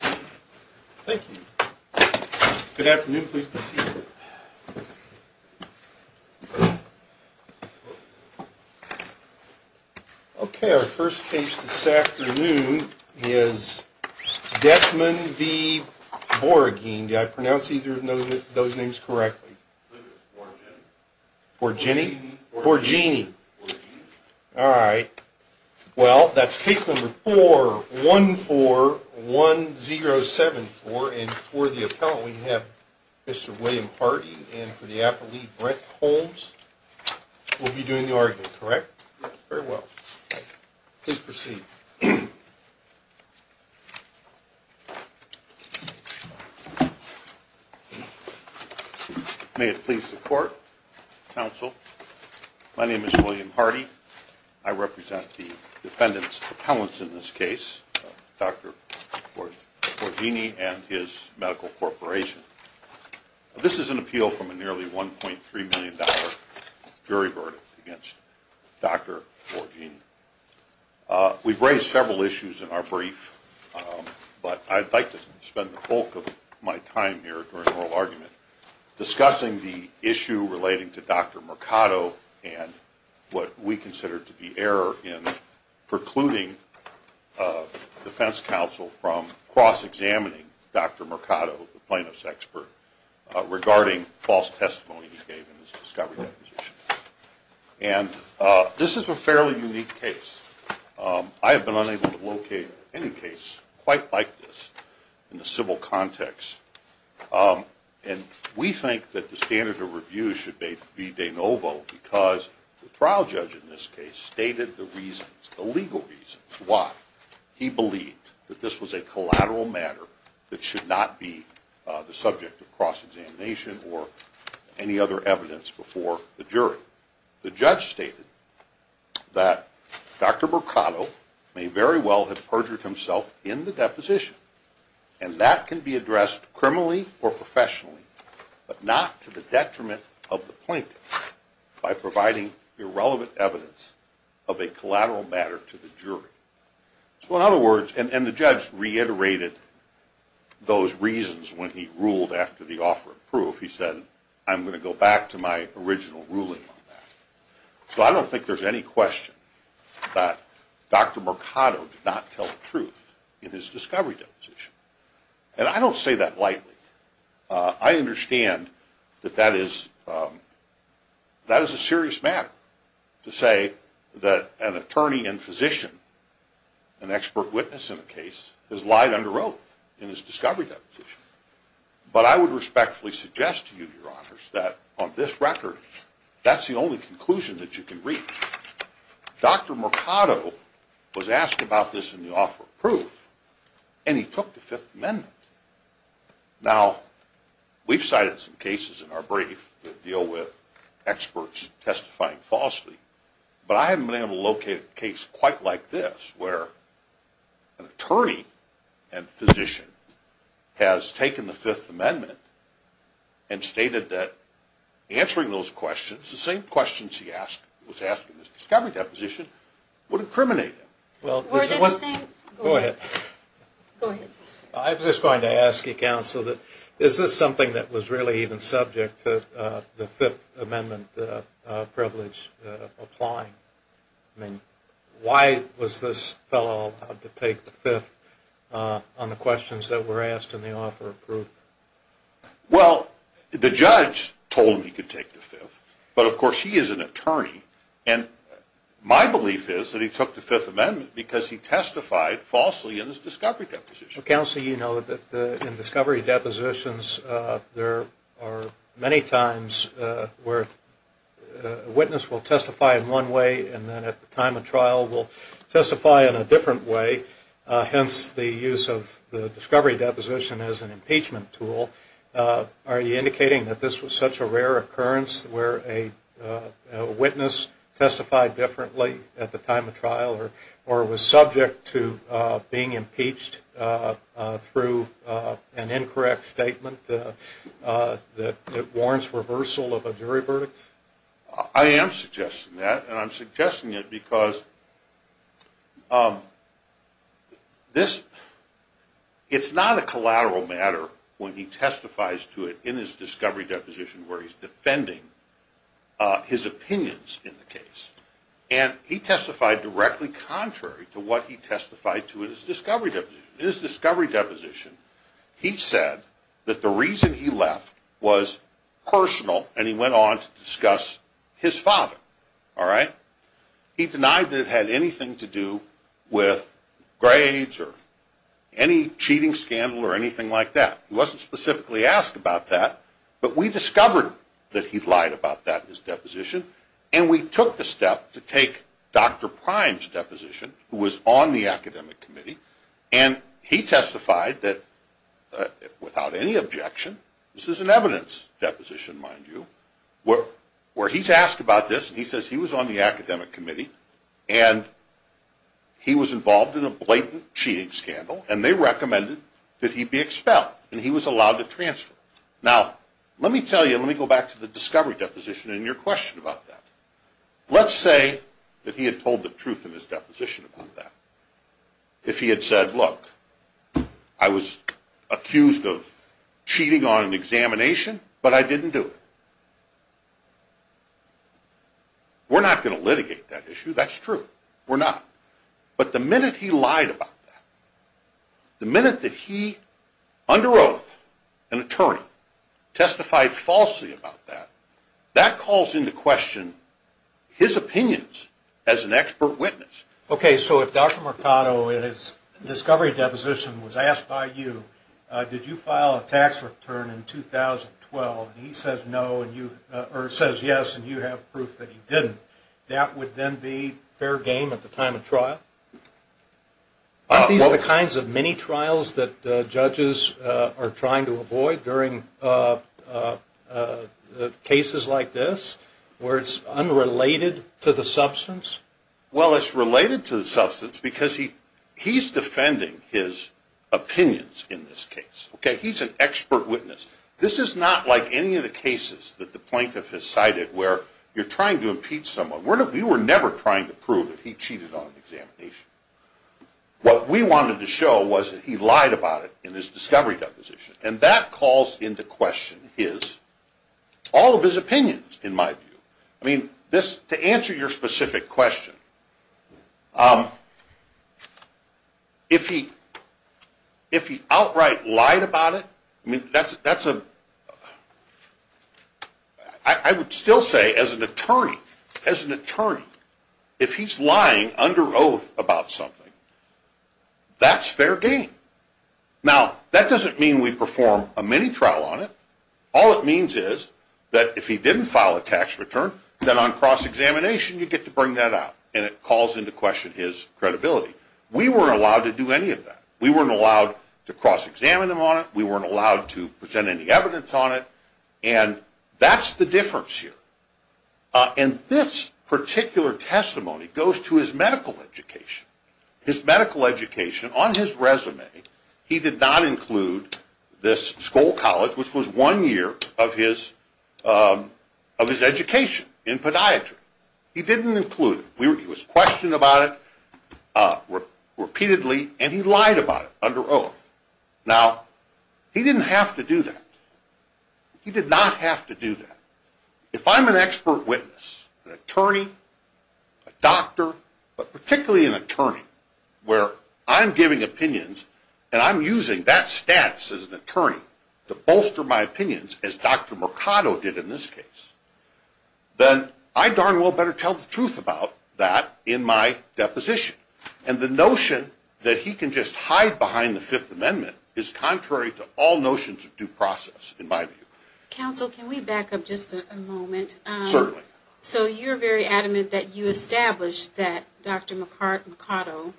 Thank you. Good afternoon, please be seated. Okay, our first case this afternoon is Doedtman v. Borreggine. Did I pronounce either of those names correctly? Borreggine. Borreggine? Borreggine. Borreggine. We have a 0-7 for and for the appellant we have Mr. William Hardy and for the appellate Brent Holmes. We'll be doing the argument, correct? Yes. Very well. Please proceed. May it please the court, counsel, my name is William Hardy. I represent the defendant's appellants in this case, Dr. Borreggine and his medical corporation. This is an appeal from a nearly $1.3 million jury verdict against Dr. Borreggine. We've raised several issues in our brief, but I'd like to spend the bulk of my time here during oral argument discussing the issue relating to Dr. Mercado and what we consider to be error in precluding defense counsel from cross-examining Dr. Mercado, the plaintiff's expert, regarding false testimony he gave in his discovery deposition. And this is a fairly unique case. I have been unable to locate any case quite like this in the civil context. And we think that the standard of review should be de novo because the trial judge in this case stated the reasons, the legal reasons, why he believed that this was a collateral matter that should not be the subject of cross-examination or any other evidence before the jury. The judge stated that Dr. Mercado may very well have perjured himself in the deposition, and that can be addressed criminally or professionally, but not to the detriment of the plaintiff by providing irrelevant evidence of a collateral matter to the jury. So in other words, and the judge reiterated those reasons when he ruled after the offer of proof. He said, I'm going to go back to my original ruling on that. So I don't think there's any question that Dr. Mercado did not tell the truth in his discovery deposition. And I don't say that lightly. I understand that that is a serious matter to say that an attorney and physician, an expert witness in the case, has lied under oath in his discovery deposition. But I would respectfully suggest to you, Your Honors, that on this record, that's the only conclusion that you can reach. Dr. Mercado was asked about this in the offer of proof, and he took the Fifth Amendment. Now, we've cited some cases in our brief that deal with experts testifying falsely, but I haven't been able to locate a case quite like this where an attorney and physician has taken the Fifth Amendment and stated that answering those questions, the same questions he was asking in his discovery deposition, would incriminate him. Go ahead. I was just going to ask you, Counsel, is this something that was really even subject to the Fifth Amendment privilege applying? I mean, why was this fellow allowed to take the Fifth on the questions that were asked in the offer of proof? Well, the judge told him he could take the Fifth. But, of course, he is an attorney. And my belief is that he took the Fifth Amendment because he testified falsely in his discovery deposition. Counsel, you know that in discovery depositions, there are many times where a witness will testify in one way and then at the time of trial will testify in a different way, hence the use of the discovery deposition as an impeachment tool. Are you indicating that this was such a rare occurrence where a witness testified differently at the time of trial or was subject to being impeached through an incorrect statement that warrants reversal of a jury verdict? I am suggesting that, and I'm suggesting it because it's not a collateral matter when he testifies to it in his discovery deposition where he's defending his opinions in the case. And he testified directly contrary to what he testified to in his discovery deposition. He said that the reason he left was personal and he went on to discuss his father. He denied that it had anything to do with grades or any cheating scandal or anything like that. He wasn't specifically asked about that, but we discovered that he lied about that in his deposition and we took the step to take Dr. Prime's deposition who was on the academic committee and he testified that without any objection, this is an evidence deposition mind you, where he's asked about this and he says he was on the academic committee and he was involved in a blatant cheating scandal and they recommended that he be expelled and he was allowed to transfer. Now let me tell you, let me go back to the discovery deposition and your question about that. Let's say that he had told the truth in his deposition about that. If he had said, look, I was accused of cheating on an examination, but I didn't do it. We're not going to litigate that issue, that's true. We're not. But the minute he lied about that, the minute that he, under oath, an attorney, testified falsely about that, that calls into question his opinions as an expert witness. Okay, so if Dr. Mercado in his discovery deposition was asked by you, did you file a tax return in 2012 and he says no or says yes and you have proof that he didn't, that would then be fair game at the time of trial? Aren't these the kinds of mini trials that judges are trying to avoid during cases like this where it's unrelated to the substance? Well, it's related to the substance because he's defending his opinions in this case. Okay, he's an expert witness. This is not like any of the cases that the plaintiff has cited where you're trying to impeach someone. We were never trying to prove that he cheated on an examination. What we wanted to show was that he lied about it in his discovery deposition. And that calls into question his, all of his opinions in my view. I mean, this, to answer your specific question, if he outright lied about it, that's a, I would still say as an attorney, as an attorney, if he's lying under oath about something, that's fair game. Now, that doesn't mean we perform a mini trial on it. All it means is that if he didn't file a tax return, then on cross-examination you get to bring that out. And it calls into question his credibility. We weren't allowed to do any of that. We weren't allowed to cross-examine him on it. We weren't allowed to present any evidence on it. And that's the difference here. And this particular testimony goes to his medical education. His medical education, on his resume, he did not include this Skoll College, which was one year of his education in podiatry. He didn't include it. He was questioned about it repeatedly, and he lied about it under oath. Now, he didn't have to do that. He did not have to do that. If I'm an expert witness, an attorney, a doctor, but particularly an attorney, where I'm giving opinions and I'm using that status as an attorney to bolster my opinions, as Dr. Mercado did in this case, then I darn well better tell the truth about that in my deposition. And the notion that he can just hide behind the Fifth Amendment is contrary to all notions of due process, in my view. Counsel, can we back up just a moment? Certainly. So you're very adamant that you established that Dr. Mercado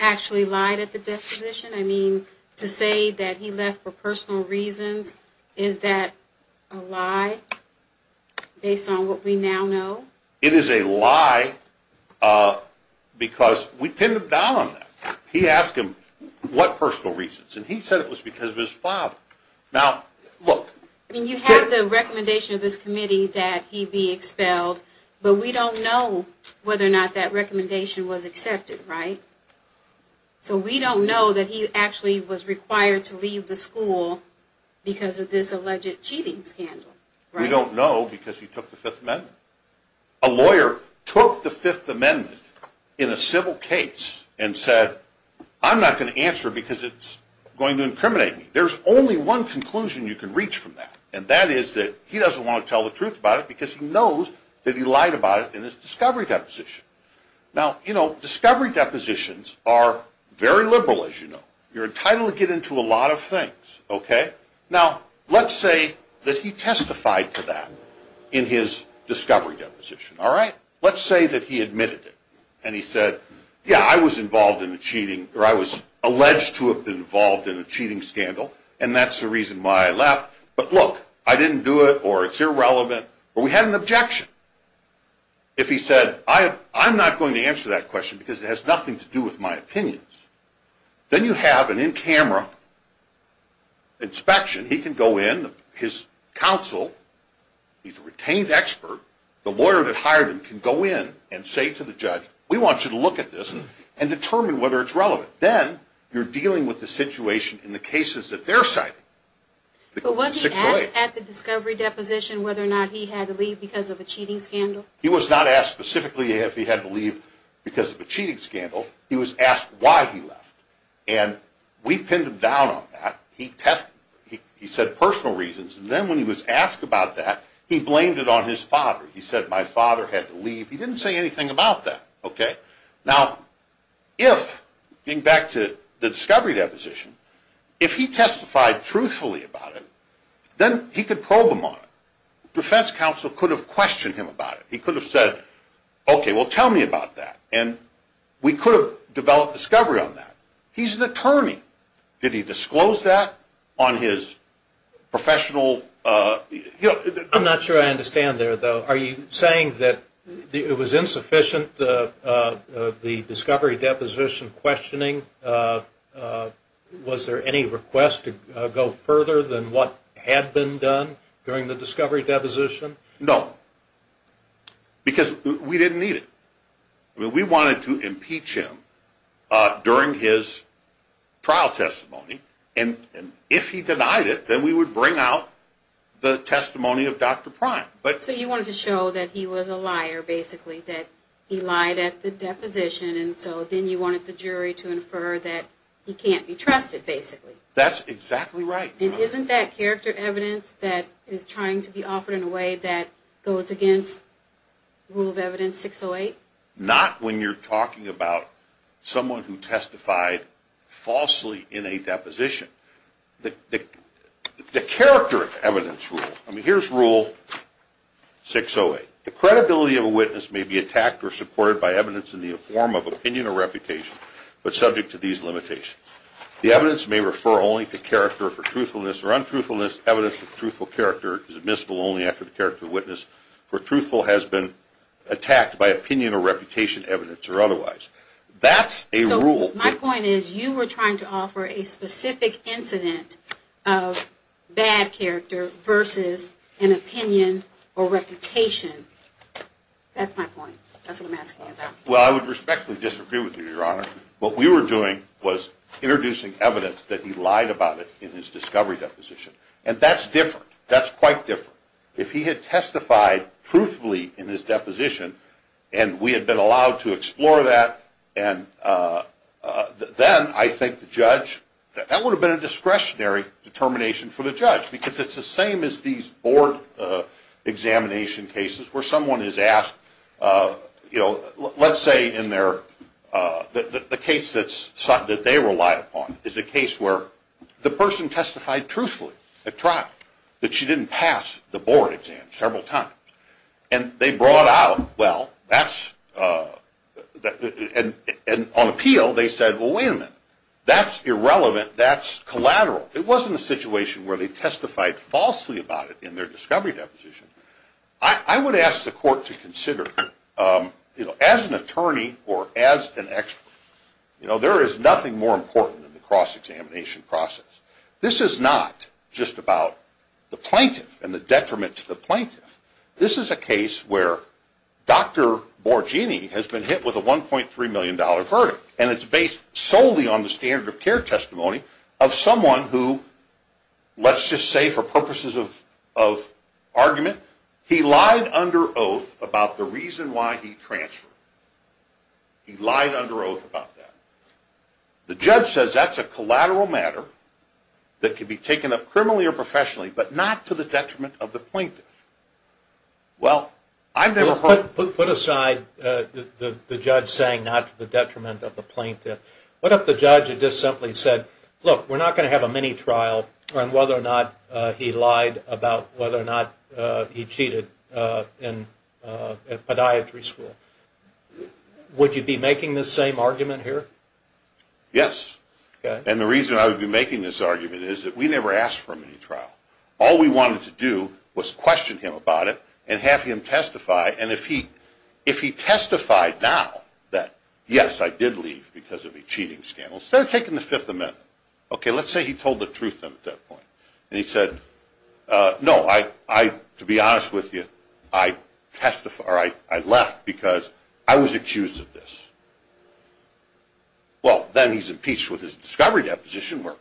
actually lied at the deposition? I mean, to say that he left for personal reasons, is that a lie based on what we now know? It is a lie because we pinned a vow on that. He asked him what personal reasons, and he said it was because of his father. I mean, you have the recommendation of this committee that he be expelled, but we don't know whether or not that recommendation was accepted, right? So we don't know that he actually was required to leave the school because of this alleged cheating scandal. We don't know because he took the Fifth Amendment. A lawyer took the Fifth Amendment in a civil case and said, I'm not going to answer because it's going to incriminate me. There's only one conclusion you can reach from that, and that is that he doesn't want to tell the truth about it because he knows that he lied about it in his discovery deposition. Now, you know, discovery depositions are very liberal, as you know. You're entitled to get into a lot of things, okay? Now, let's say that he testified to that in his discovery deposition, all right? Let's say that he admitted it, and he said, yeah, I was involved in a cheating, or I was alleged to have been involved in a cheating scandal, and that's the reason why I left. But look, I didn't do it, or it's irrelevant, or we had an objection. If he said, I'm not going to answer that question because it has nothing to do with my opinions, then you have an in-camera inspection. He can go in, his counsel, he's a retained expert. The lawyer that hired him can go in and say to the judge, we want you to look at this and determine whether it's relevant. Then you're dealing with the situation in the cases that they're citing. But wasn't he asked at the discovery deposition whether or not he had to leave because of a cheating scandal? He was not asked specifically if he had to leave because of a cheating scandal. He was asked why he left, and we pinned him down on that. He tested, he said personal reasons, and then when he was asked about that, he blamed it on his father. He said, my father had to leave. He didn't say anything about that. Now, if, getting back to the discovery deposition, if he testified truthfully about it, then he could probe him on it. Defense counsel could have questioned him about it. He could have said, okay, well, tell me about that, and we could have developed discovery on that. He's an attorney. Did he disclose that on his professional? I'm not sure I understand there, though. Are you saying that it was insufficient, the discovery deposition questioning? Was there any request to go further than what had been done during the discovery deposition? No, because we didn't need it. We wanted to impeach him during his trial testimony, and if he denied it, then we would bring out the testimony of Dr. Prime. So you wanted to show that he was a liar, basically, that he lied at the deposition, and so then you wanted the jury to infer that he can't be trusted, basically. That's exactly right. And isn't that character evidence that is trying to be offered in a way that goes against Rule of Evidence 608? Not when you're talking about someone who testified falsely in a deposition. The character evidence rule. I mean, here's Rule 608. The credibility of a witness may be attacked or supported by evidence in the form of opinion or reputation, but subject to these limitations. The evidence may refer only to character for truthfulness or untruthfulness. Evidence of truthful character is admissible only after the character of witness for truthful has been attacked by opinion or reputation evidence or otherwise. That's a rule. So my point is you were trying to offer a specific incident of bad character versus an opinion or reputation. That's my point. That's what I'm asking you about. Well, I would respectfully disagree with you, Your Honor. What we were doing was introducing evidence that he lied about it in his discovery deposition, and that's different. That's quite different. If he had testified truthfully in his deposition and we had been allowed to explore that, then I think the judge, that would have been a discretionary determination for the judge because it's the same as these board examination cases where someone is asked, you know, let's say in their, the case that they relied upon is a case where the person testified truthfully that she didn't pass the board exam several times. And they brought out, well, that's, and on appeal they said, well, wait a minute. That's irrelevant. That's collateral. It wasn't a situation where they testified falsely about it in their discovery deposition. I would ask the court to consider, you know, as an attorney or as an expert, you know, there is nothing more important than the cross-examination process. This is not just about the plaintiff and the detriment to the plaintiff. This is a case where Dr. Borgini has been hit with a $1.3 million verdict, and it's based solely on the standard of care testimony of someone who, let's just say for purposes of argument, he lied under oath about the reason why he transferred. He lied under oath about that. The judge says that's a collateral matter that can be taken up criminally or professionally, but not to the detriment of the plaintiff. Well, I've never heard. Put aside the judge saying not to the detriment of the plaintiff. What if the judge had just simply said, look, we're not going to have a mini-trial on whether or not he lied about whether or not he cheated at podiatry school? Would you be making this same argument here? Yes. And the reason I would be making this argument is that we never asked for a mini-trial. All we wanted to do was question him about it and have him testify, and if he testified now that, yes, I did leave because of a cheating scandal, instead of taking the Fifth Amendment, okay, let's say he told the truth then at that point, and he said, no, to be honest with you, I left because I was accused of this. Well, then he's impeached with his discovery deposition where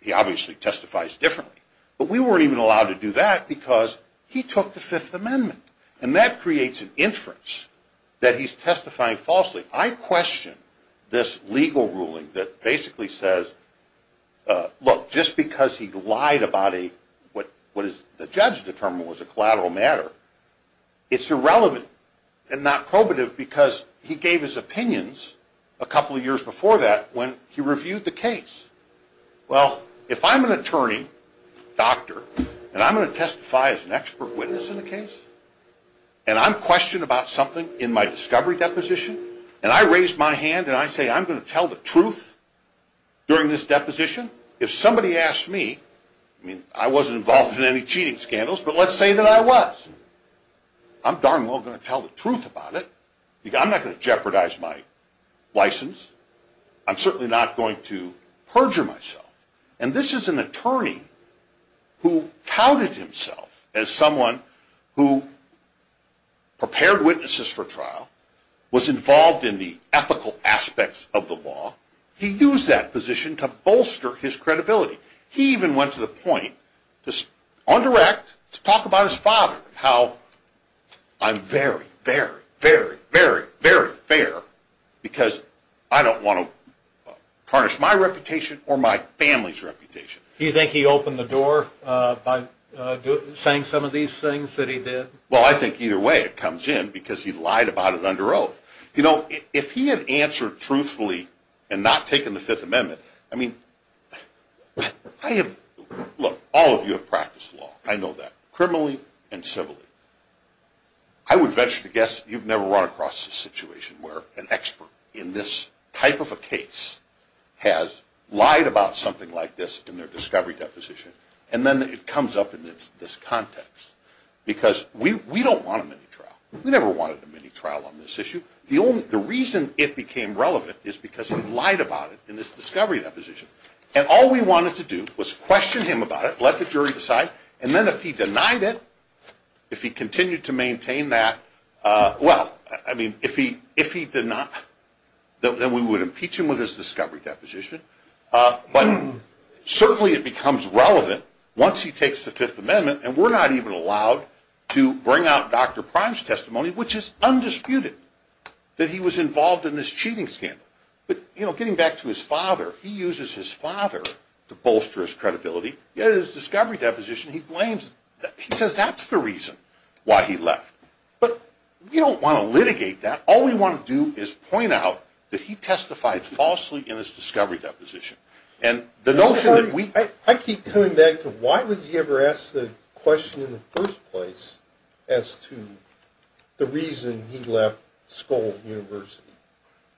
he obviously testifies differently, but we weren't even allowed to do that because he took the Fifth Amendment, and that creates an inference that he's testifying falsely. I question this legal ruling that basically says, look, just because he lied about what the judge determined was a collateral matter, it's irrelevant and not probative because he gave his opinions a couple of years before that when he reviewed the case. Well, if I'm an attorney, doctor, and I'm going to testify as an expert witness in a case, and I'm questioned about something in my discovery deposition, and I raise my hand and I say I'm going to tell the truth during this deposition, if somebody asks me, I mean, I wasn't involved in any cheating scandals, but let's say that I was, I'm darn well going to tell the truth about it. I'm not going to jeopardize my license. I'm certainly not going to perjure myself. And this is an attorney who touted himself as someone who prepared witnesses for trial, was involved in the ethical aspects of the law. He used that position to bolster his credibility. He even went to the point on direct to talk about his father, how I'm very, very, very, very, very fair because I don't want to tarnish my reputation or my family's reputation. Do you think he opened the door by saying some of these things that he did? Well, I think either way it comes in because he lied about it under oath. You know, if he had answered truthfully and not taken the Fifth Amendment, I mean, I have, look, all of you have practiced law. I know that criminally and civilly. I would venture to guess you've never run across a situation where an expert in this type of a case has lied about something like this in their discovery deposition. And then it comes up in this context because we don't want a mini-trial. We never wanted a mini-trial on this issue. The reason it became relevant is because he lied about it in his discovery deposition. And all we wanted to do was question him about it, let the jury decide, and then if he denied it, if he continued to maintain that, well, I mean, if he did not, then we would impeach him with his discovery deposition. But certainly it becomes relevant once he takes the Fifth Amendment, and we're not even allowed to bring out Dr. Prime's testimony, which is undisputed that he was involved in this cheating scandal. But, you know, getting back to his father, he uses his father to bolster his credibility. Yet in his discovery deposition he blames, he says that's the reason why he left. But we don't want to litigate that. All we want to do is point out that he testified falsely in his discovery deposition. And the notion that we... I keep coming back to why was he ever asked the question in the first place as to the reason he left Skoll University?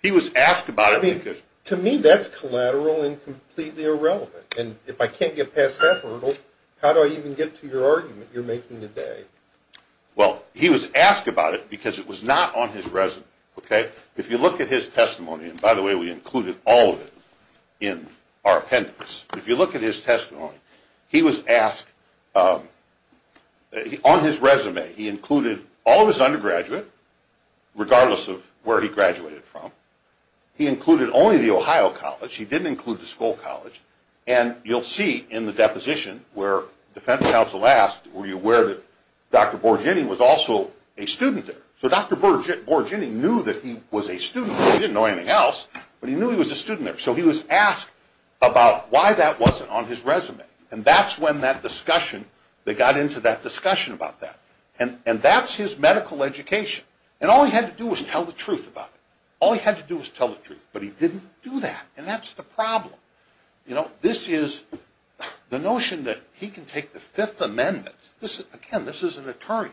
He was asked about it because... I mean, to me that's collateral and completely irrelevant. And if I can't get past that hurdle, how do I even get to your argument you're making today? Well, he was asked about it because it was not on his resume. If you look at his testimony, and by the way, we included all of it in our appendix. If you look at his testimony, he was asked... On his resume he included all of his undergraduate, regardless of where he graduated from. He included only the Ohio College. He didn't include the Skoll College. And you'll see in the deposition where the defense counsel asked, were you aware that Dr. Borgeni was also a student there? So Dr. Borgeni knew that he was a student there. He didn't know anything else, but he knew he was a student there. So he was asked about why that wasn't on his resume. And that's when that discussion... They got into that discussion about that. And that's his medical education. And all he had to do was tell the truth about it. All he had to do was tell the truth. But he didn't do that. And that's the problem. This is the notion that he can take the Fifth Amendment... Again, this is an attorney.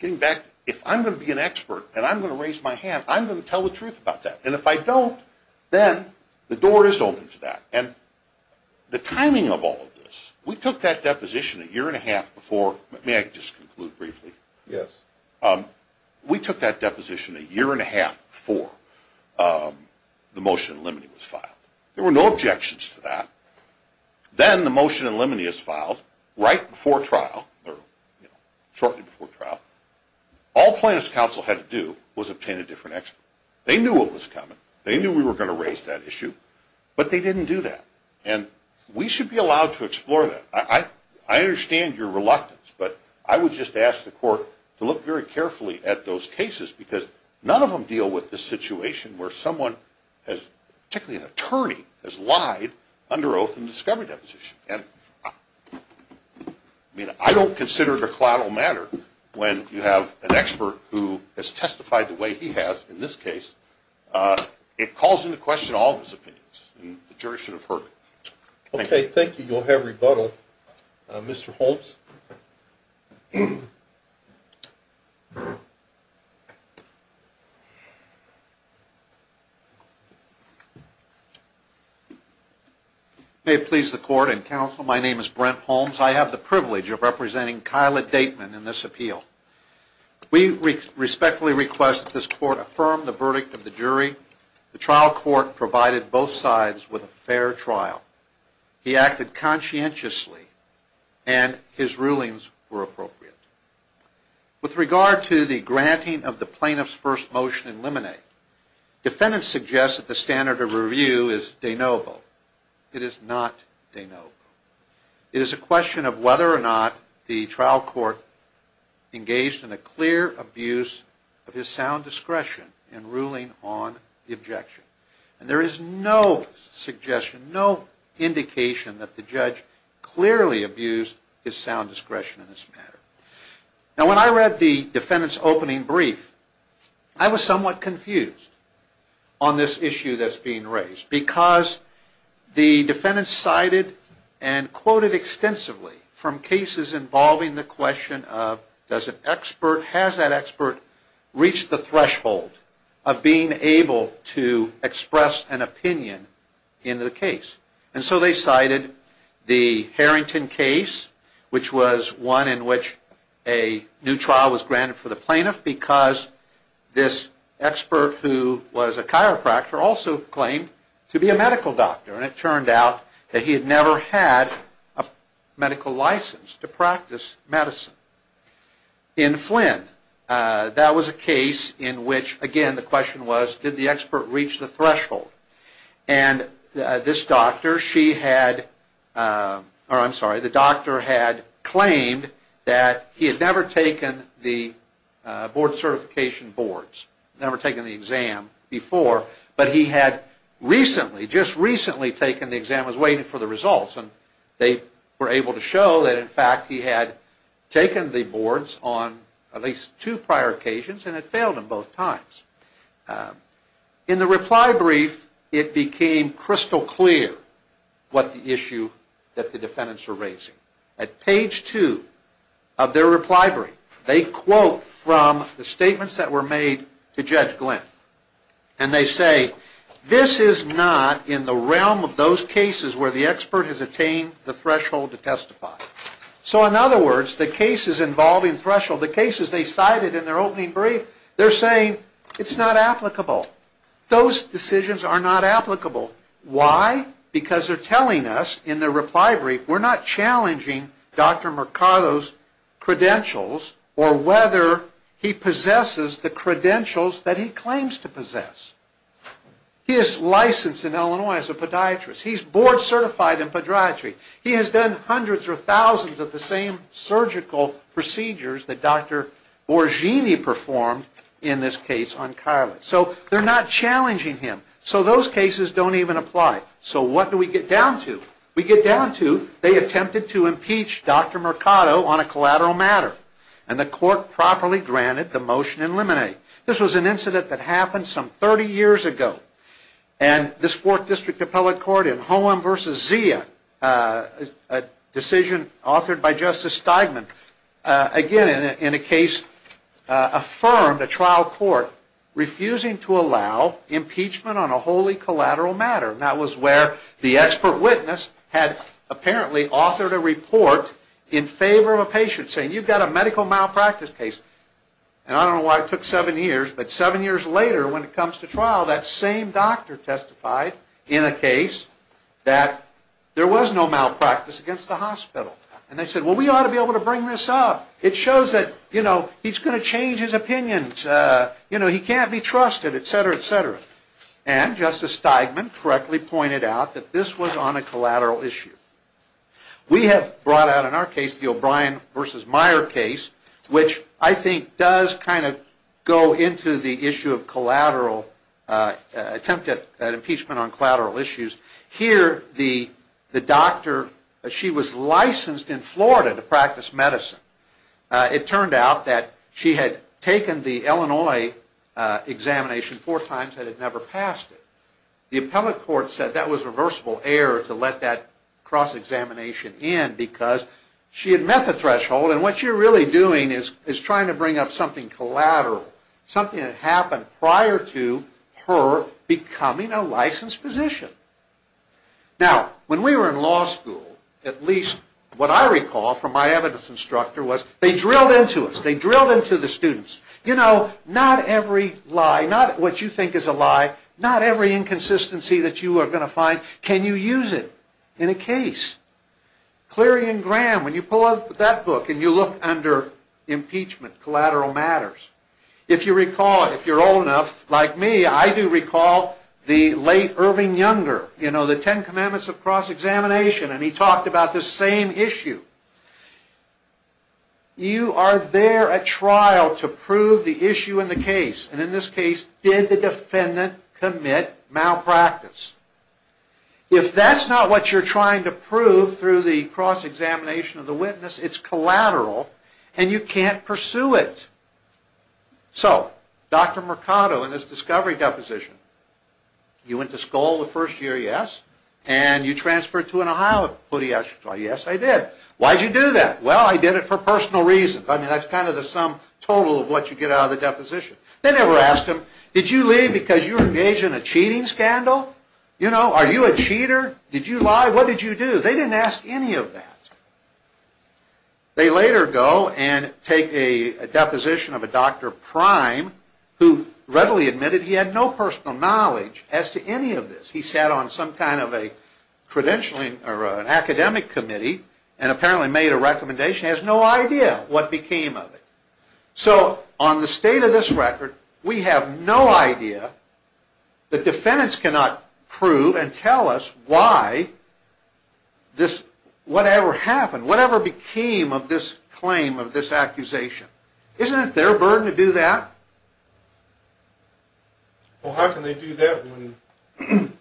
Getting back, if I'm going to be an expert and I'm going to raise my hand, I'm going to tell the truth about that. And if I don't, then the door is open to that. And the timing of all of this... We took that deposition a year and a half before... May I just conclude briefly? Yes. We took that deposition a year and a half before the motion in limine was filed. There were no objections to that. Then the motion in limine is filed right before trial, or shortly before trial. All plaintiff's counsel had to do was obtain a different expert. They knew what was coming. They knew we were going to raise that issue. But they didn't do that. And we should be allowed to explore that. I understand your reluctance. But I would just ask the court to look very carefully at those cases because none of them deal with the situation where someone, particularly an attorney, has lied under oath in a discovery deposition. I don't consider it a collateral matter when you have an expert who has testified the way he has in this case. It calls into question all of his opinions. The jury should have heard it. Okay, thank you. You'll have rebuttal. Mr. Holmes? May it please the court and counsel, my name is Brent Holmes. I have the privilege of representing Kyla Dateman in this appeal. We respectfully request that this court affirm the verdict of the jury. The trial court provided both sides with a fair trial. He acted conscientiously, and his rulings were appropriate. With regard to the granting of the plaintiff's first motion in limine, defendants suggest that the standard of review is de novo. It is not de novo. It is a question of whether or not the trial court engaged in a clear abuse of his sound discretion in ruling on the objection. And there is no suggestion, no indication that the judge clearly abused his sound discretion in this matter. Now when I read the defendant's opening brief, I was somewhat confused on this issue that's being raised. Because the defendant cited and quoted extensively from cases involving the question of does an expert, reach the threshold of being able to express an opinion in the case. And so they cited the Harrington case, which was one in which a new trial was granted for the plaintiff, because this expert who was a chiropractor also claimed to be a medical doctor. And it turned out that he had never had a medical license to practice medicine. In Flynn, that was a case in which, again, the question was did the expert reach the threshold? And this doctor, she had, or I'm sorry, the doctor had claimed that he had never taken the board certification boards, never taken the exam before, but he had recently, just recently taken the exam, was waiting for the results. And they were able to show that, in fact, he had taken the boards on at least two prior occasions and had failed them both times. In the reply brief, it became crystal clear what the issue that the defendants were raising. At page two of their reply brief, they quote from the statements that were made to Judge Glynn. And they say, this is not in the realm of those cases where the expert has attained the threshold to testify. So in other words, the cases involving threshold, the cases they cited in their opening brief, they're saying it's not applicable. Those decisions are not applicable. Why? Because they're telling us in their reply brief we're not challenging Dr. Mercado's credentials or whether he possesses the credentials that he claims to possess. He is licensed in Illinois as a podiatrist. He's board certified in podiatry. He has done hundreds or thousands of the same surgical procedures that Dr. Borghini performed, in this case, on Kyla. So they're not challenging him. So those cases don't even apply. So what do we get down to? We get down to they attempted to impeach Dr. Mercado on a collateral matter. And the court properly granted the motion in limine. This was an incident that happened some 30 years ago. And this Fourth District Appellate Court in Holm v. Zia, a decision authored by Justice Steigman, again, in a case, affirmed a trial court refusing to allow impeachment on a wholly collateral matter. And that was where the expert witness had apparently authored a report in favor of a patient, saying you've got a medical malpractice case. And I don't know why it took seven years, but seven years later, when it comes to trial, that same doctor testified in a case that there was no malpractice against the hospital. And they said, well, we ought to be able to bring this up. It shows that, you know, he's going to change his opinions. You know, he can't be trusted, et cetera, et cetera. And Justice Steigman correctly pointed out that this was on a collateral issue. We have brought out in our case the O'Brien v. Meyer case, which I think does kind of go into the issue of attempt at impeachment on collateral issues. Here, the doctor, she was licensed in Florida to practice medicine. It turned out that she had taken the Illinois examination four times and had never passed it. The appellate court said that was reversible error to let that cross-examination in because she had met the threshold. And what you're really doing is trying to bring up something collateral, something that happened prior to her becoming a licensed physician. Now, when we were in law school, at least what I recall from my evidence instructor was they drilled into us. They drilled into the students. You know, not every lie, not what you think is a lie, not every inconsistency that you are going to find, can you use it in a case. Cleary and Graham, when you pull up that book and you look under impeachment, collateral matters, If you recall, if you're old enough like me, I do recall the late Irving Younger, you know, the Ten Commandments of Cross-Examination, and he talked about the same issue. You are there at trial to prove the issue in the case, and in this case, did the defendant commit malpractice? If that's not what you're trying to prove through the cross-examination of the witness, it's collateral, and you can't pursue it. So, Dr. Mercado and his discovery deposition. You went to school the first year, yes? And you transferred to an Ohio, yes, I did. Why did you do that? Well, I did it for personal reasons. I mean, that's kind of the sum total of what you get out of the deposition. They never asked him, did you leave because you were engaged in a cheating scandal? You know, are you a cheater? Did you lie? What did you do? They didn't ask any of that. They later go and take a deposition of a Dr. Prime, who readily admitted he had no personal knowledge as to any of this. He sat on some kind of a credentialing or an academic committee, and apparently made a recommendation. He has no idea what became of it. So, on the state of this record, we have no idea that defendants cannot prove and tell us why this, whatever happened, whatever became of this claim, of this accusation. Isn't it their burden to do that? Well, how can they do that when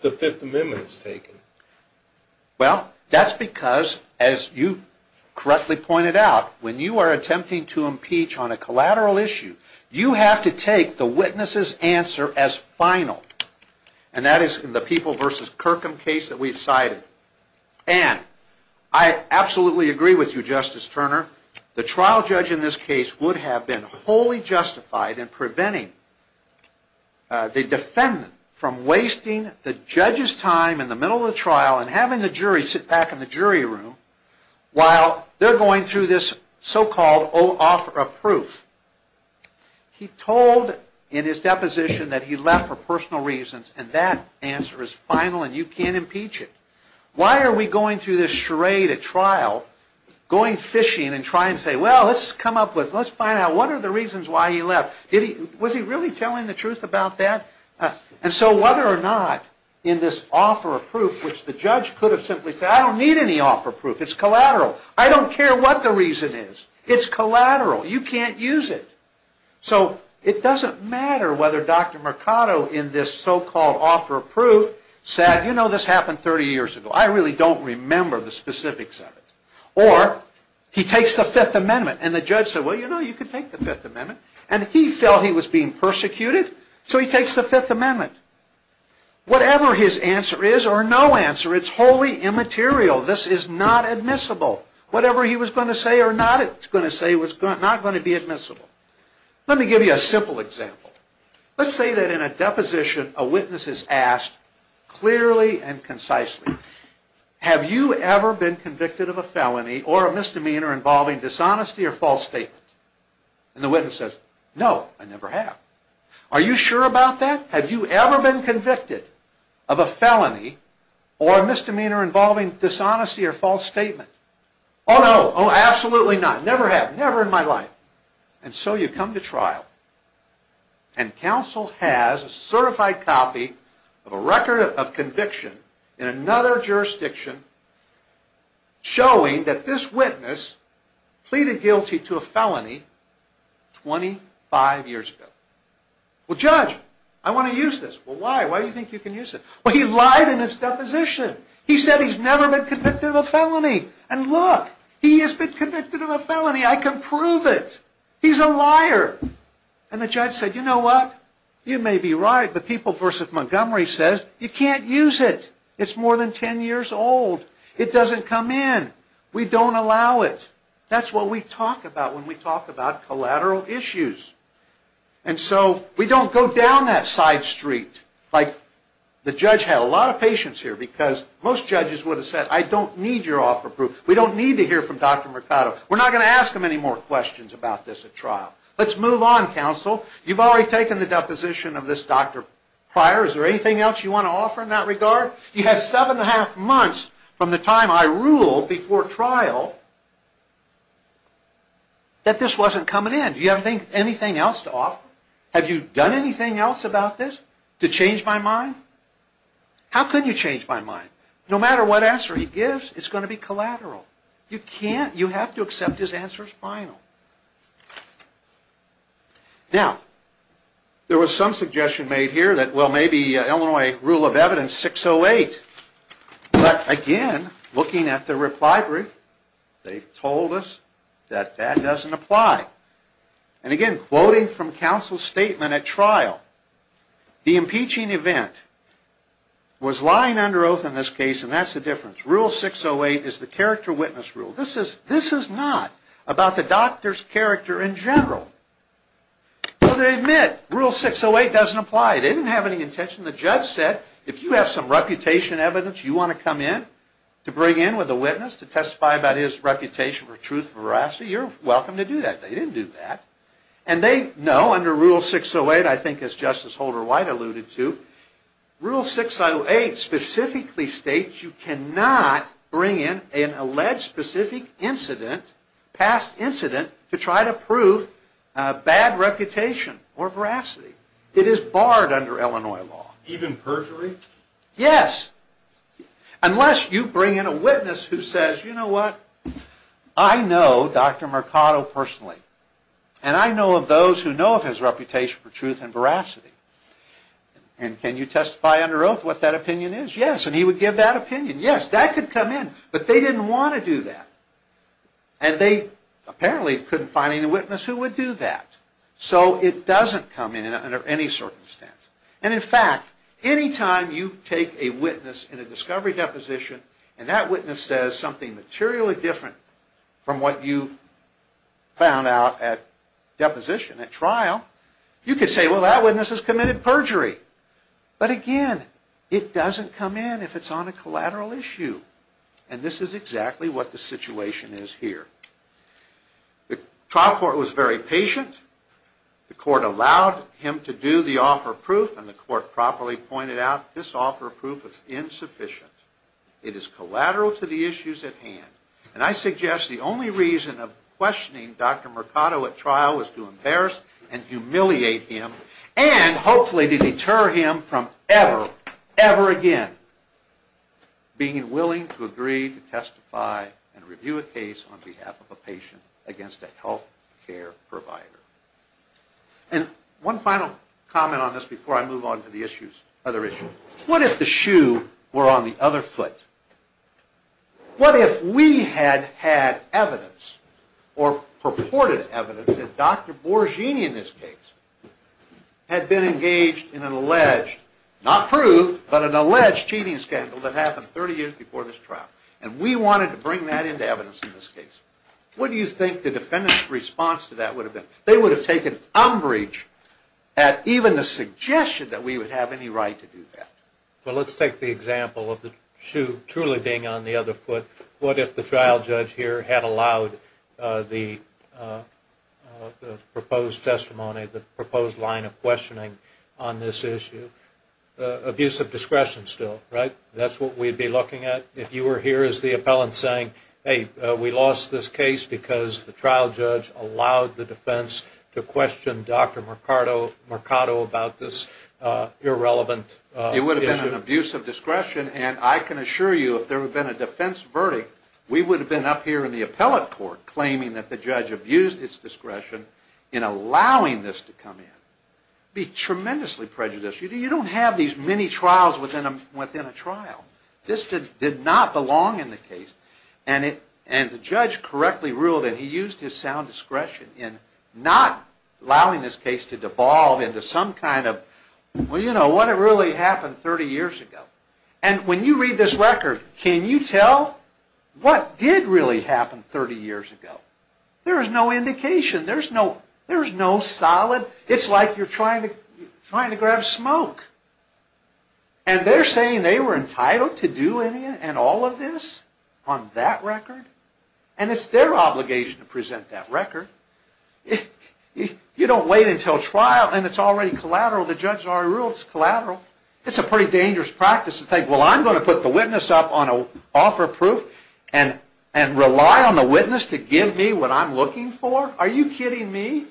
the Fifth Amendment is taken? Well, that's because, as you correctly pointed out, when you are attempting to impeach on a collateral issue, you have to take the witness's answer as final. And that is in the People v. Kirkham case that we've cited. And, I absolutely agree with you, Justice Turner, the trial judge in this case would have been wholly justified in preventing the defendant from wasting the judge's time in the middle of the trial and having the jury sit back in the jury room while they're going through this so-called offer of proof. He told in his deposition that he left for personal reasons, and that answer is final and you can't impeach it. Why are we going through this charade at trial, going fishing and trying to say, well, let's come up with, let's find out what are the reasons why he left? Was he really telling the truth about that? And so, whether or not in this offer of proof, which the judge could have simply said, I don't need any offer of proof. It's collateral. I don't care what the reason is. It's collateral. You can't use it. So, it doesn't matter whether Dr. Mercado in this so-called offer of proof said, you know, this happened 30 years ago. I really don't remember the specifics of it. Or, he takes the Fifth Amendment and the judge said, well, you know, you can take the Fifth Amendment. And he felt he was being persecuted, so he takes the Fifth Amendment. Whatever his answer is or no answer, it's wholly immaterial. This is not admissible. Whatever he was going to say or not going to say was not going to be admissible. Let me give you a simple example. Let's say that in a deposition, a witness is asked clearly and concisely, have you ever been convicted of a felony or a misdemeanor involving dishonesty or false statement? And the witness says, no, I never have. Are you sure about that? Have you ever been convicted of a felony or a misdemeanor involving dishonesty or false statement? Oh, no. Oh, absolutely not. Never have. Never in my life. And so, you come to trial and counsel has a certified copy of a record of conviction in another jurisdiction showing that this witness pleaded guilty to a felony 25 years ago. Well, judge, I want to use this. Well, why? Why do you think you can use it? Well, he lied in his deposition. He said he's never been convicted of a felony. And look, he has been convicted of a felony. I can prove it. He's a liar. And the judge said, you know what? You may be right, but People v. Montgomery says you can't use it. It's more than 10 years old. It doesn't come in. We don't allow it. That's what we talk about when we talk about collateral issues. And so, we don't go down that side street. Like, the judge had a lot of patience here because most judges would have said, I don't need your offer proof. We don't need to hear from Dr. Mercado. We're not going to ask him any more questions about this at trial. Let's move on, counsel. You've already taken the deposition of this doctor prior. Is there anything else you want to offer in that regard? You have seven and a half months from the time I ruled before trial that this wasn't coming in. Do you have anything else to offer? Have you done anything else about this to change my mind? How can you change my mind? No matter what answer he gives, it's going to be collateral. You can't. You have to accept his answer as final. Now, there was some suggestion made here that, well, maybe Illinois rule of evidence 608. But, again, looking at the reply brief, they told us that that doesn't apply. And, again, quoting from counsel's statement at trial, the impeaching event was lying under oath in this case, and that's the difference. Rule 608 is the character witness rule. This is not about the doctor's character in general. So, they admit rule 608 doesn't apply. They didn't have any intention. The judge said, if you have some reputation evidence you want to come in to bring in with a witness to testify about his reputation for truth and veracity, you're welcome to do that. They didn't do that. And they know under rule 608, I think as Justice Holder White alluded to, rule 608 specifically states you cannot bring in an alleged specific incident, past incident, to try to prove bad reputation or veracity. It is barred under Illinois law. Even perjury? Yes. Unless you bring in a witness who says, you know what, I know Dr. Mercado personally, and I know of those who know of his reputation for truth and veracity. And can you testify under oath what that opinion is? Yes. And he would give that opinion. Yes, that could come in. But they didn't want to do that. And they apparently couldn't find any witness who would do that. So it doesn't come in under any circumstance. And in fact, any time you take a witness in a discovery deposition and that witness says something materially different from what you found out at deposition, at trial, you could say, well, that witness has committed perjury. But again, it doesn't come in if it's on a collateral issue. And this is exactly what the situation is here. The trial court was very patient. The court allowed him to do the offer of proof. And the court properly pointed out this offer of proof is insufficient. It is collateral to the issues at hand. And I suggest the only reason of questioning Dr. Mercado at trial was to embarrass and humiliate him and hopefully to deter him from ever, ever again being willing to agree to testify and review a case on behalf of a patient against a health care provider. And one final comment on this before I move on to the other issues. What if the shoe were on the other foot? What if we had had evidence or purported evidence that Dr. Borghini in this case had been engaged in an alleged, not proved, but an alleged cheating scandal that happened 30 years before this trial? And we wanted to bring that into evidence in this case. What do you think the defendant's response to that would have been? They would have taken umbrage at even the suggestion that we would have any right to do that. Well, let's take the example of the shoe truly being on the other foot. What if the trial judge here had allowed the proposed testimony, the proposed line of questioning on this issue? Abusive discretion still, right? That's what we'd be looking at if you were here as the appellant saying, hey, we lost this case because the trial judge allowed the defense to question Dr. Mercado about this irrelevant issue. It would have been an abuse of discretion, and I can assure you if there had been a defense verdict, we would have been up here in the appellate court claiming that the judge abused its discretion in allowing this to come in. It would be tremendously prejudicial. You don't have these many trials within a trial. This did not belong in the case, and the judge correctly ruled that he used his sound discretion in not allowing this case to devolve into some kind of, well, you know, what had really happened 30 years ago. And when you read this record, can you tell what did really happen 30 years ago? There is no indication. There is no solid. It's like you're trying to grab smoke, and they're saying they were entitled to do any and all of this on that record, and it's their obligation to present that record. You don't wait until trial, and it's already collateral. The judge already ruled it's collateral. It's a pretty dangerous practice to think, well, I'm going to put the witness up on offer proof and rely on the witness to give me what I'm looking for. Are you kidding me?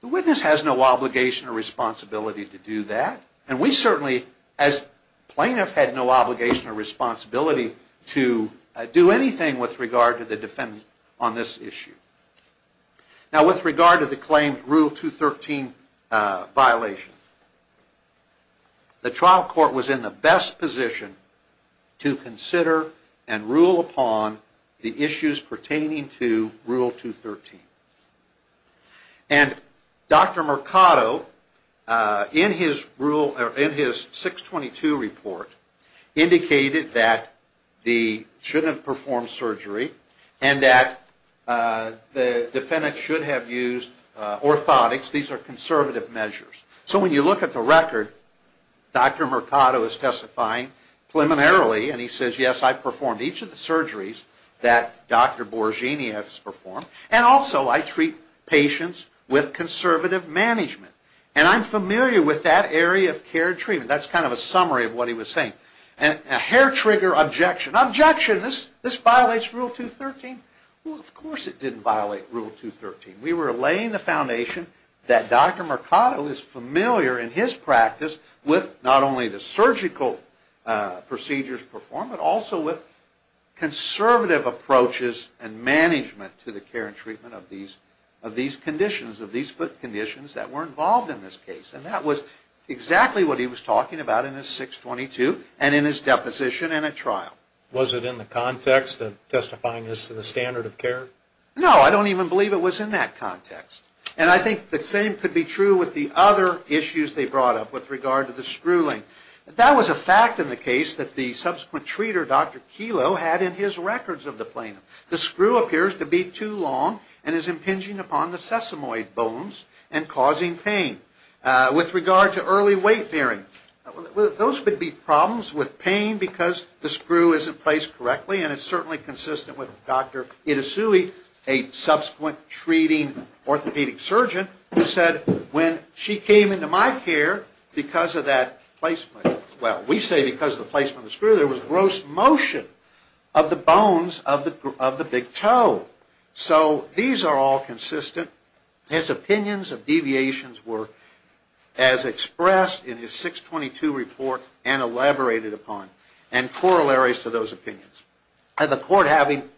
The witness has no obligation or responsibility to do that, and we certainly, as plaintiff, had no obligation or responsibility to do anything with regard to the defendant on this issue. Now, with regard to the claimed Rule 213 violation, the trial court was in the best position to consider and rule upon the issues pertaining to Rule 213. And Dr. Mercado, in his 622 report, indicated that they shouldn't have performed surgery and that the defendant should have used orthotics. These are conservative measures. So when you look at the record, Dr. Mercado is testifying preliminarily, and he says, yes, I performed each of the surgeries that Dr. Borghini has performed, and also I treat patients with conservative management. And I'm familiar with that area of care and treatment. That's kind of a summary of what he was saying. And a hair trigger objection. Objection! This violates Rule 213. Well, of course it didn't violate Rule 213. We were laying the foundation that Dr. Mercado is familiar in his practice with not only the surgical procedures performed, but also with conservative approaches and management to the care and treatment of these conditions, of these foot conditions that were involved in this case. And that was exactly what he was talking about in his 622 and in his deposition and at trial. Was it in the context of testifying as to the standard of care? No, I don't even believe it was in that context. And I think the same could be true with the other issues they brought up with regard to the screwing. That was a fact in the case that the subsequent treater, Dr. Kilo, had in his records of the plaintiff. The screw appears to be too long and is impinging upon the sesamoid bones and causing pain. With regard to early weight bearing, those would be problems with pain because the screw is in place correctly and it's certainly consistent with Dr. Itosui, a subsequent treating orthopedic surgeon, who said, when she came into my care because of that placement, well, we say because of the placement of the screw, there was gross motion of the bones of the big toe. So these are all consistent. His opinions of deviations were as expressed in his 622 report and elaborated upon and corollaries to those opinions. The court, having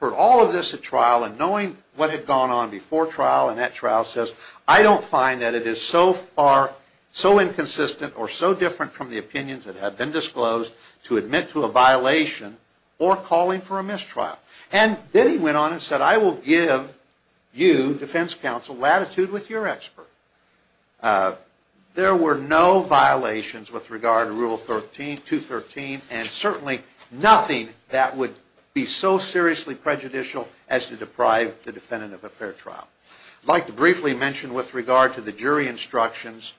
heard all of this at trial and knowing what had gone on before trial and that trial says, I don't find that it is so far so inconsistent or so different from the opinions that have been disclosed to admit to a violation or calling for a mistrial. And then he went on and said, I will give you, defense counsel, latitude with your expert. There were no violations with regard to Rule 213 and certainly nothing that would be so seriously prejudicial as to deprive the defendant of a fair trial. I'd like to briefly mention with regard to the jury instructions,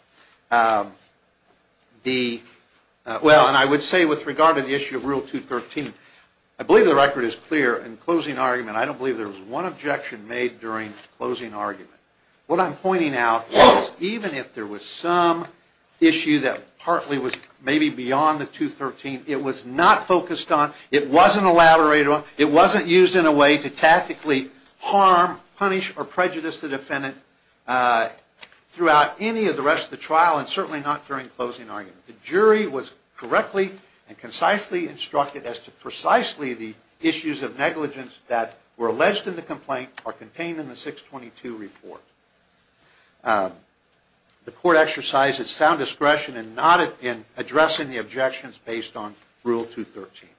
well, and I would say with regard to the issue of Rule 213, I believe the record is clear in closing argument. I don't believe there was one objection made during closing argument. What I'm pointing out is even if there was some issue that partly was maybe beyond the 213, it was not focused on, it wasn't elaborated on, it wasn't used in a way to tactically harm, punish, or prejudice the defendant throughout any of the rest of the trial and certainly not during closing argument. The jury was correctly and concisely instructed as to precisely the issues of negligence that were alleged in the complaint are contained in the 622 report. The court exercised its sound discretion in not addressing the objections based on Rule 213.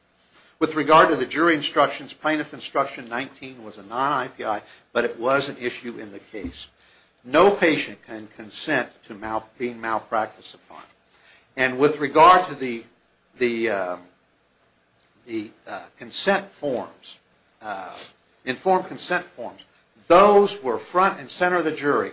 With regard to the jury instructions, Plaintiff Instruction 19 was a non-IPI, but it was an issue in the case. No patient can consent to being malpracticed upon. And with regard to the consent forms, informed consent forms, those were front and center of the jury.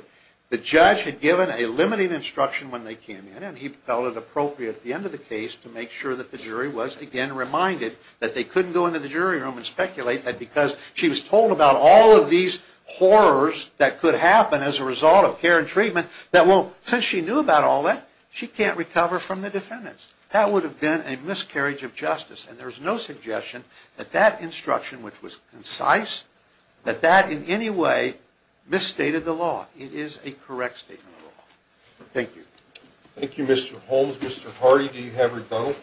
The judge had given a limiting instruction when they came in and he felt it appropriate at the end of the case to make sure that the jury was again reminded that they couldn't go into the jury room and speculate that because she was told about all of these horrors that could happen as a result of care and treatment, that since she knew about all that, she can't recover from the defendants. That would have been a miscarriage of justice. And there's no suggestion that that instruction, which was concise, that that in any way misstated the law. It is a correct statement of the law. Thank you. Thank you, Mr. Holmes. Mr. Hardy, do you have a rebuttal?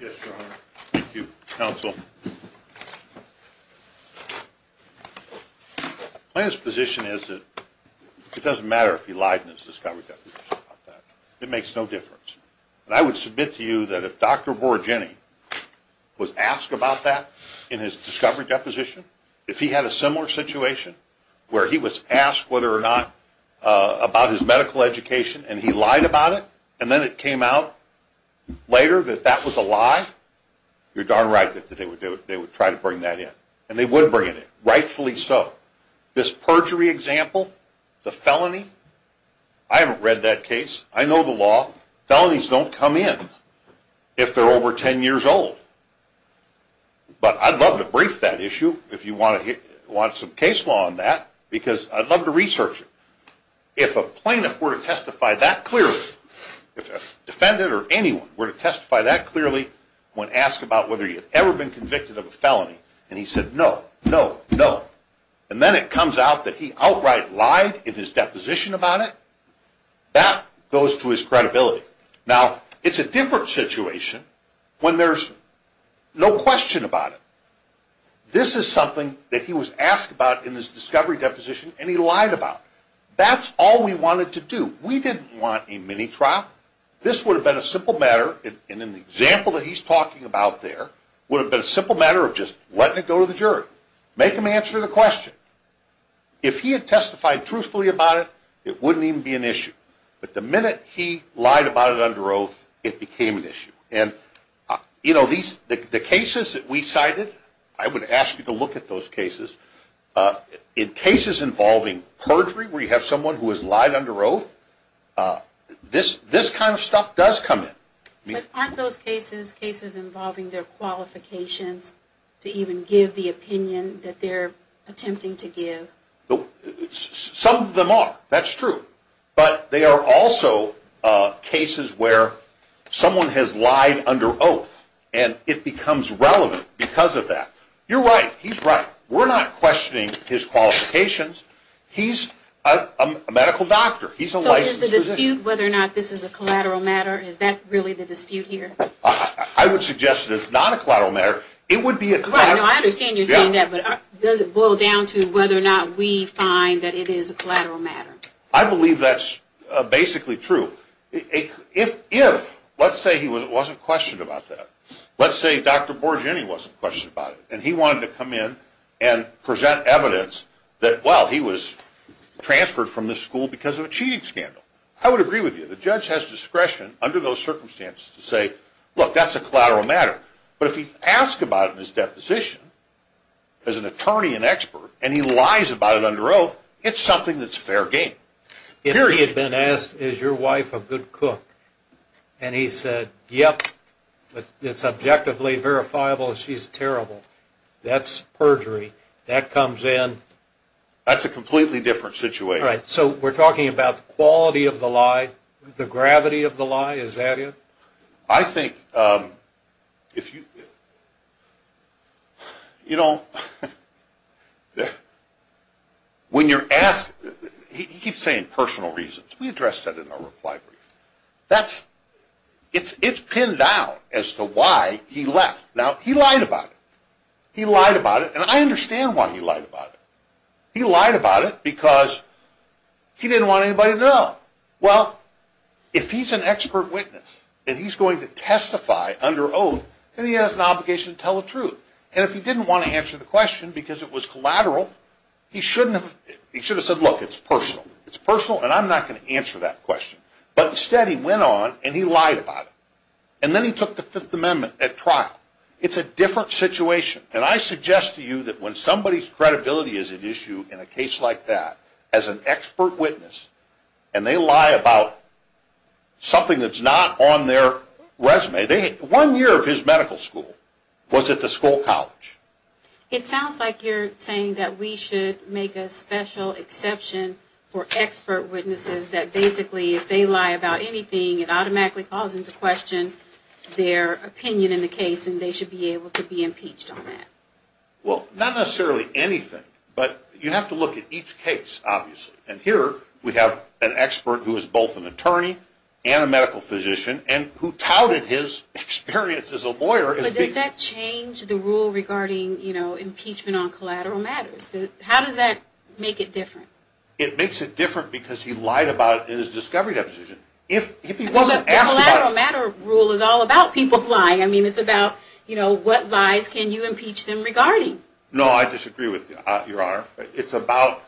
Yes, Your Honor. Thank you, counsel. Plaintiff's position is that it doesn't matter if he lied in his discovery deposition about that. It makes no difference. And I would submit to you that if Dr. Borregini was asked about that in his discovery deposition, if he had a similar situation where he was asked whether or not about his medical education and he lied about it, and then it came out later that that was a lie, you're darn right that they would try to bring that in. And they would bring it in, rightfully so. This perjury example, the felony, I haven't read that case. I know the law. Felonies don't come in if they're over 10 years old. But I'd love to brief that issue. If you want some case law on that, because I'd love to research it. If a plaintiff were to testify that clearly, if a defendant or anyone were to testify that clearly when asked about whether he had ever been convicted of a felony, and he said no, no, no, and then it comes out that he outright lied in his deposition about it, that goes to his credibility. Now, it's a different situation when there's no question about it. This is something that he was asked about in his discovery deposition, and he lied about it. That's all we wanted to do. We didn't want a mini-trial. This would have been a simple matter, and in the example that he's talking about there, would have been a simple matter of just letting it go to the jury. Make them answer the question. If he had testified truthfully about it, it wouldn't even be an issue. But the minute he lied about it under oath, it became an issue. The cases that we cited, I would ask you to look at those cases. In cases involving perjury where you have someone who has lied under oath, this kind of stuff does come in. But aren't those cases, cases involving their qualifications to even give the opinion that they're attempting to give? Some of them are. That's true. But they are also cases where someone has lied under oath, and it becomes relevant because of that. You're right. He's right. We're not questioning his qualifications. He's a medical doctor. He's a licensed physician. So is the dispute whether or not this is a collateral matter, is that really the dispute here? I would suggest that it's not a collateral matter. No, I understand you're saying that, but does it boil down to whether or not we find that it is a collateral matter? I believe that's basically true. If, let's say he wasn't questioned about that. Let's say Dr. Borgen wasn't questioned about it, and he wanted to come in and present evidence that, well, he was transferred from this school because of a cheating scandal. I would agree with you. The judge has discretion under those circumstances to say, look, that's a collateral matter. But if he's asked about it in his deposition as an attorney and expert, and he lies about it under oath, it's something that's fair game, period. If he had been asked, is your wife a good cook, and he said, yep, but it's objectively verifiable that she's terrible, that's perjury. That comes in. That's a completely different situation. Right. So we're talking about the quality of the lie, the gravity of the lie. Is that it? I think if you, you know, when you're asked, he keeps saying personal reasons. We addressed that in our reply brief. That's, it's pinned down as to why he left. Now, he lied about it. He lied about it, and I understand why he lied about it. He lied about it because he didn't want anybody to know. Well, if he's an expert witness, and he's going to testify under oath, then he has an obligation to tell the truth. And if he didn't want to answer the question because it was collateral, he shouldn't have, he should have said, look, it's personal. It's personal, and I'm not going to answer that question. But instead, he went on, and he lied about it. And then he took the Fifth Amendment at trial. It's a different situation. And I suggest to you that when somebody's credibility is at issue in a case like that, as an expert witness, and they lie about something that's not on their resume. One year of his medical school was at the Skoll College. It sounds like you're saying that we should make a special exception for expert witnesses that basically if they lie about anything, it automatically calls into question their opinion in the case, and they should be able to be impeached on that. Well, not necessarily anything, but you have to look at each case, obviously. And here we have an expert who is both an attorney and a medical physician and who touted his experience as a lawyer. But does that change the rule regarding impeachment on collateral matters? How does that make it different? It makes it different because he lied about it in his discovery deposition. If he wasn't asked about it. The collateral matter rule is all about people lying. I mean, it's about what lies can you impeach them regarding. No, I disagree with you, Your Honor. It's about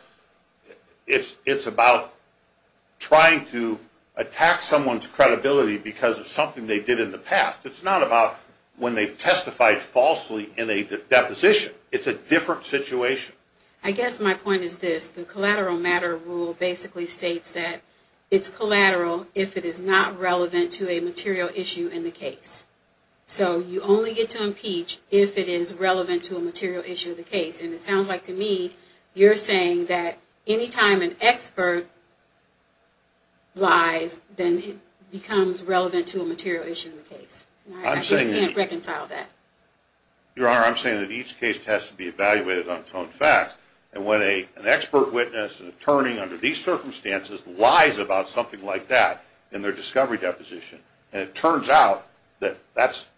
trying to attack someone's credibility because of something they did in the past. It's not about when they testified falsely in a deposition. It's a different situation. I guess my point is this. The collateral matter rule basically states that it's collateral if it is not relevant to a material issue in the case. So you only get to impeach if it is relevant to a material issue in the case. And it sounds like to me you're saying that any time an expert lies, then it becomes relevant to a material issue in the case. I just can't reconcile that. Your Honor, I'm saying that each case has to be evaluated on its own facts. And when an expert witness, an attorney under these circumstances, lies about something like that in their discovery deposition, and it turns out that that's false.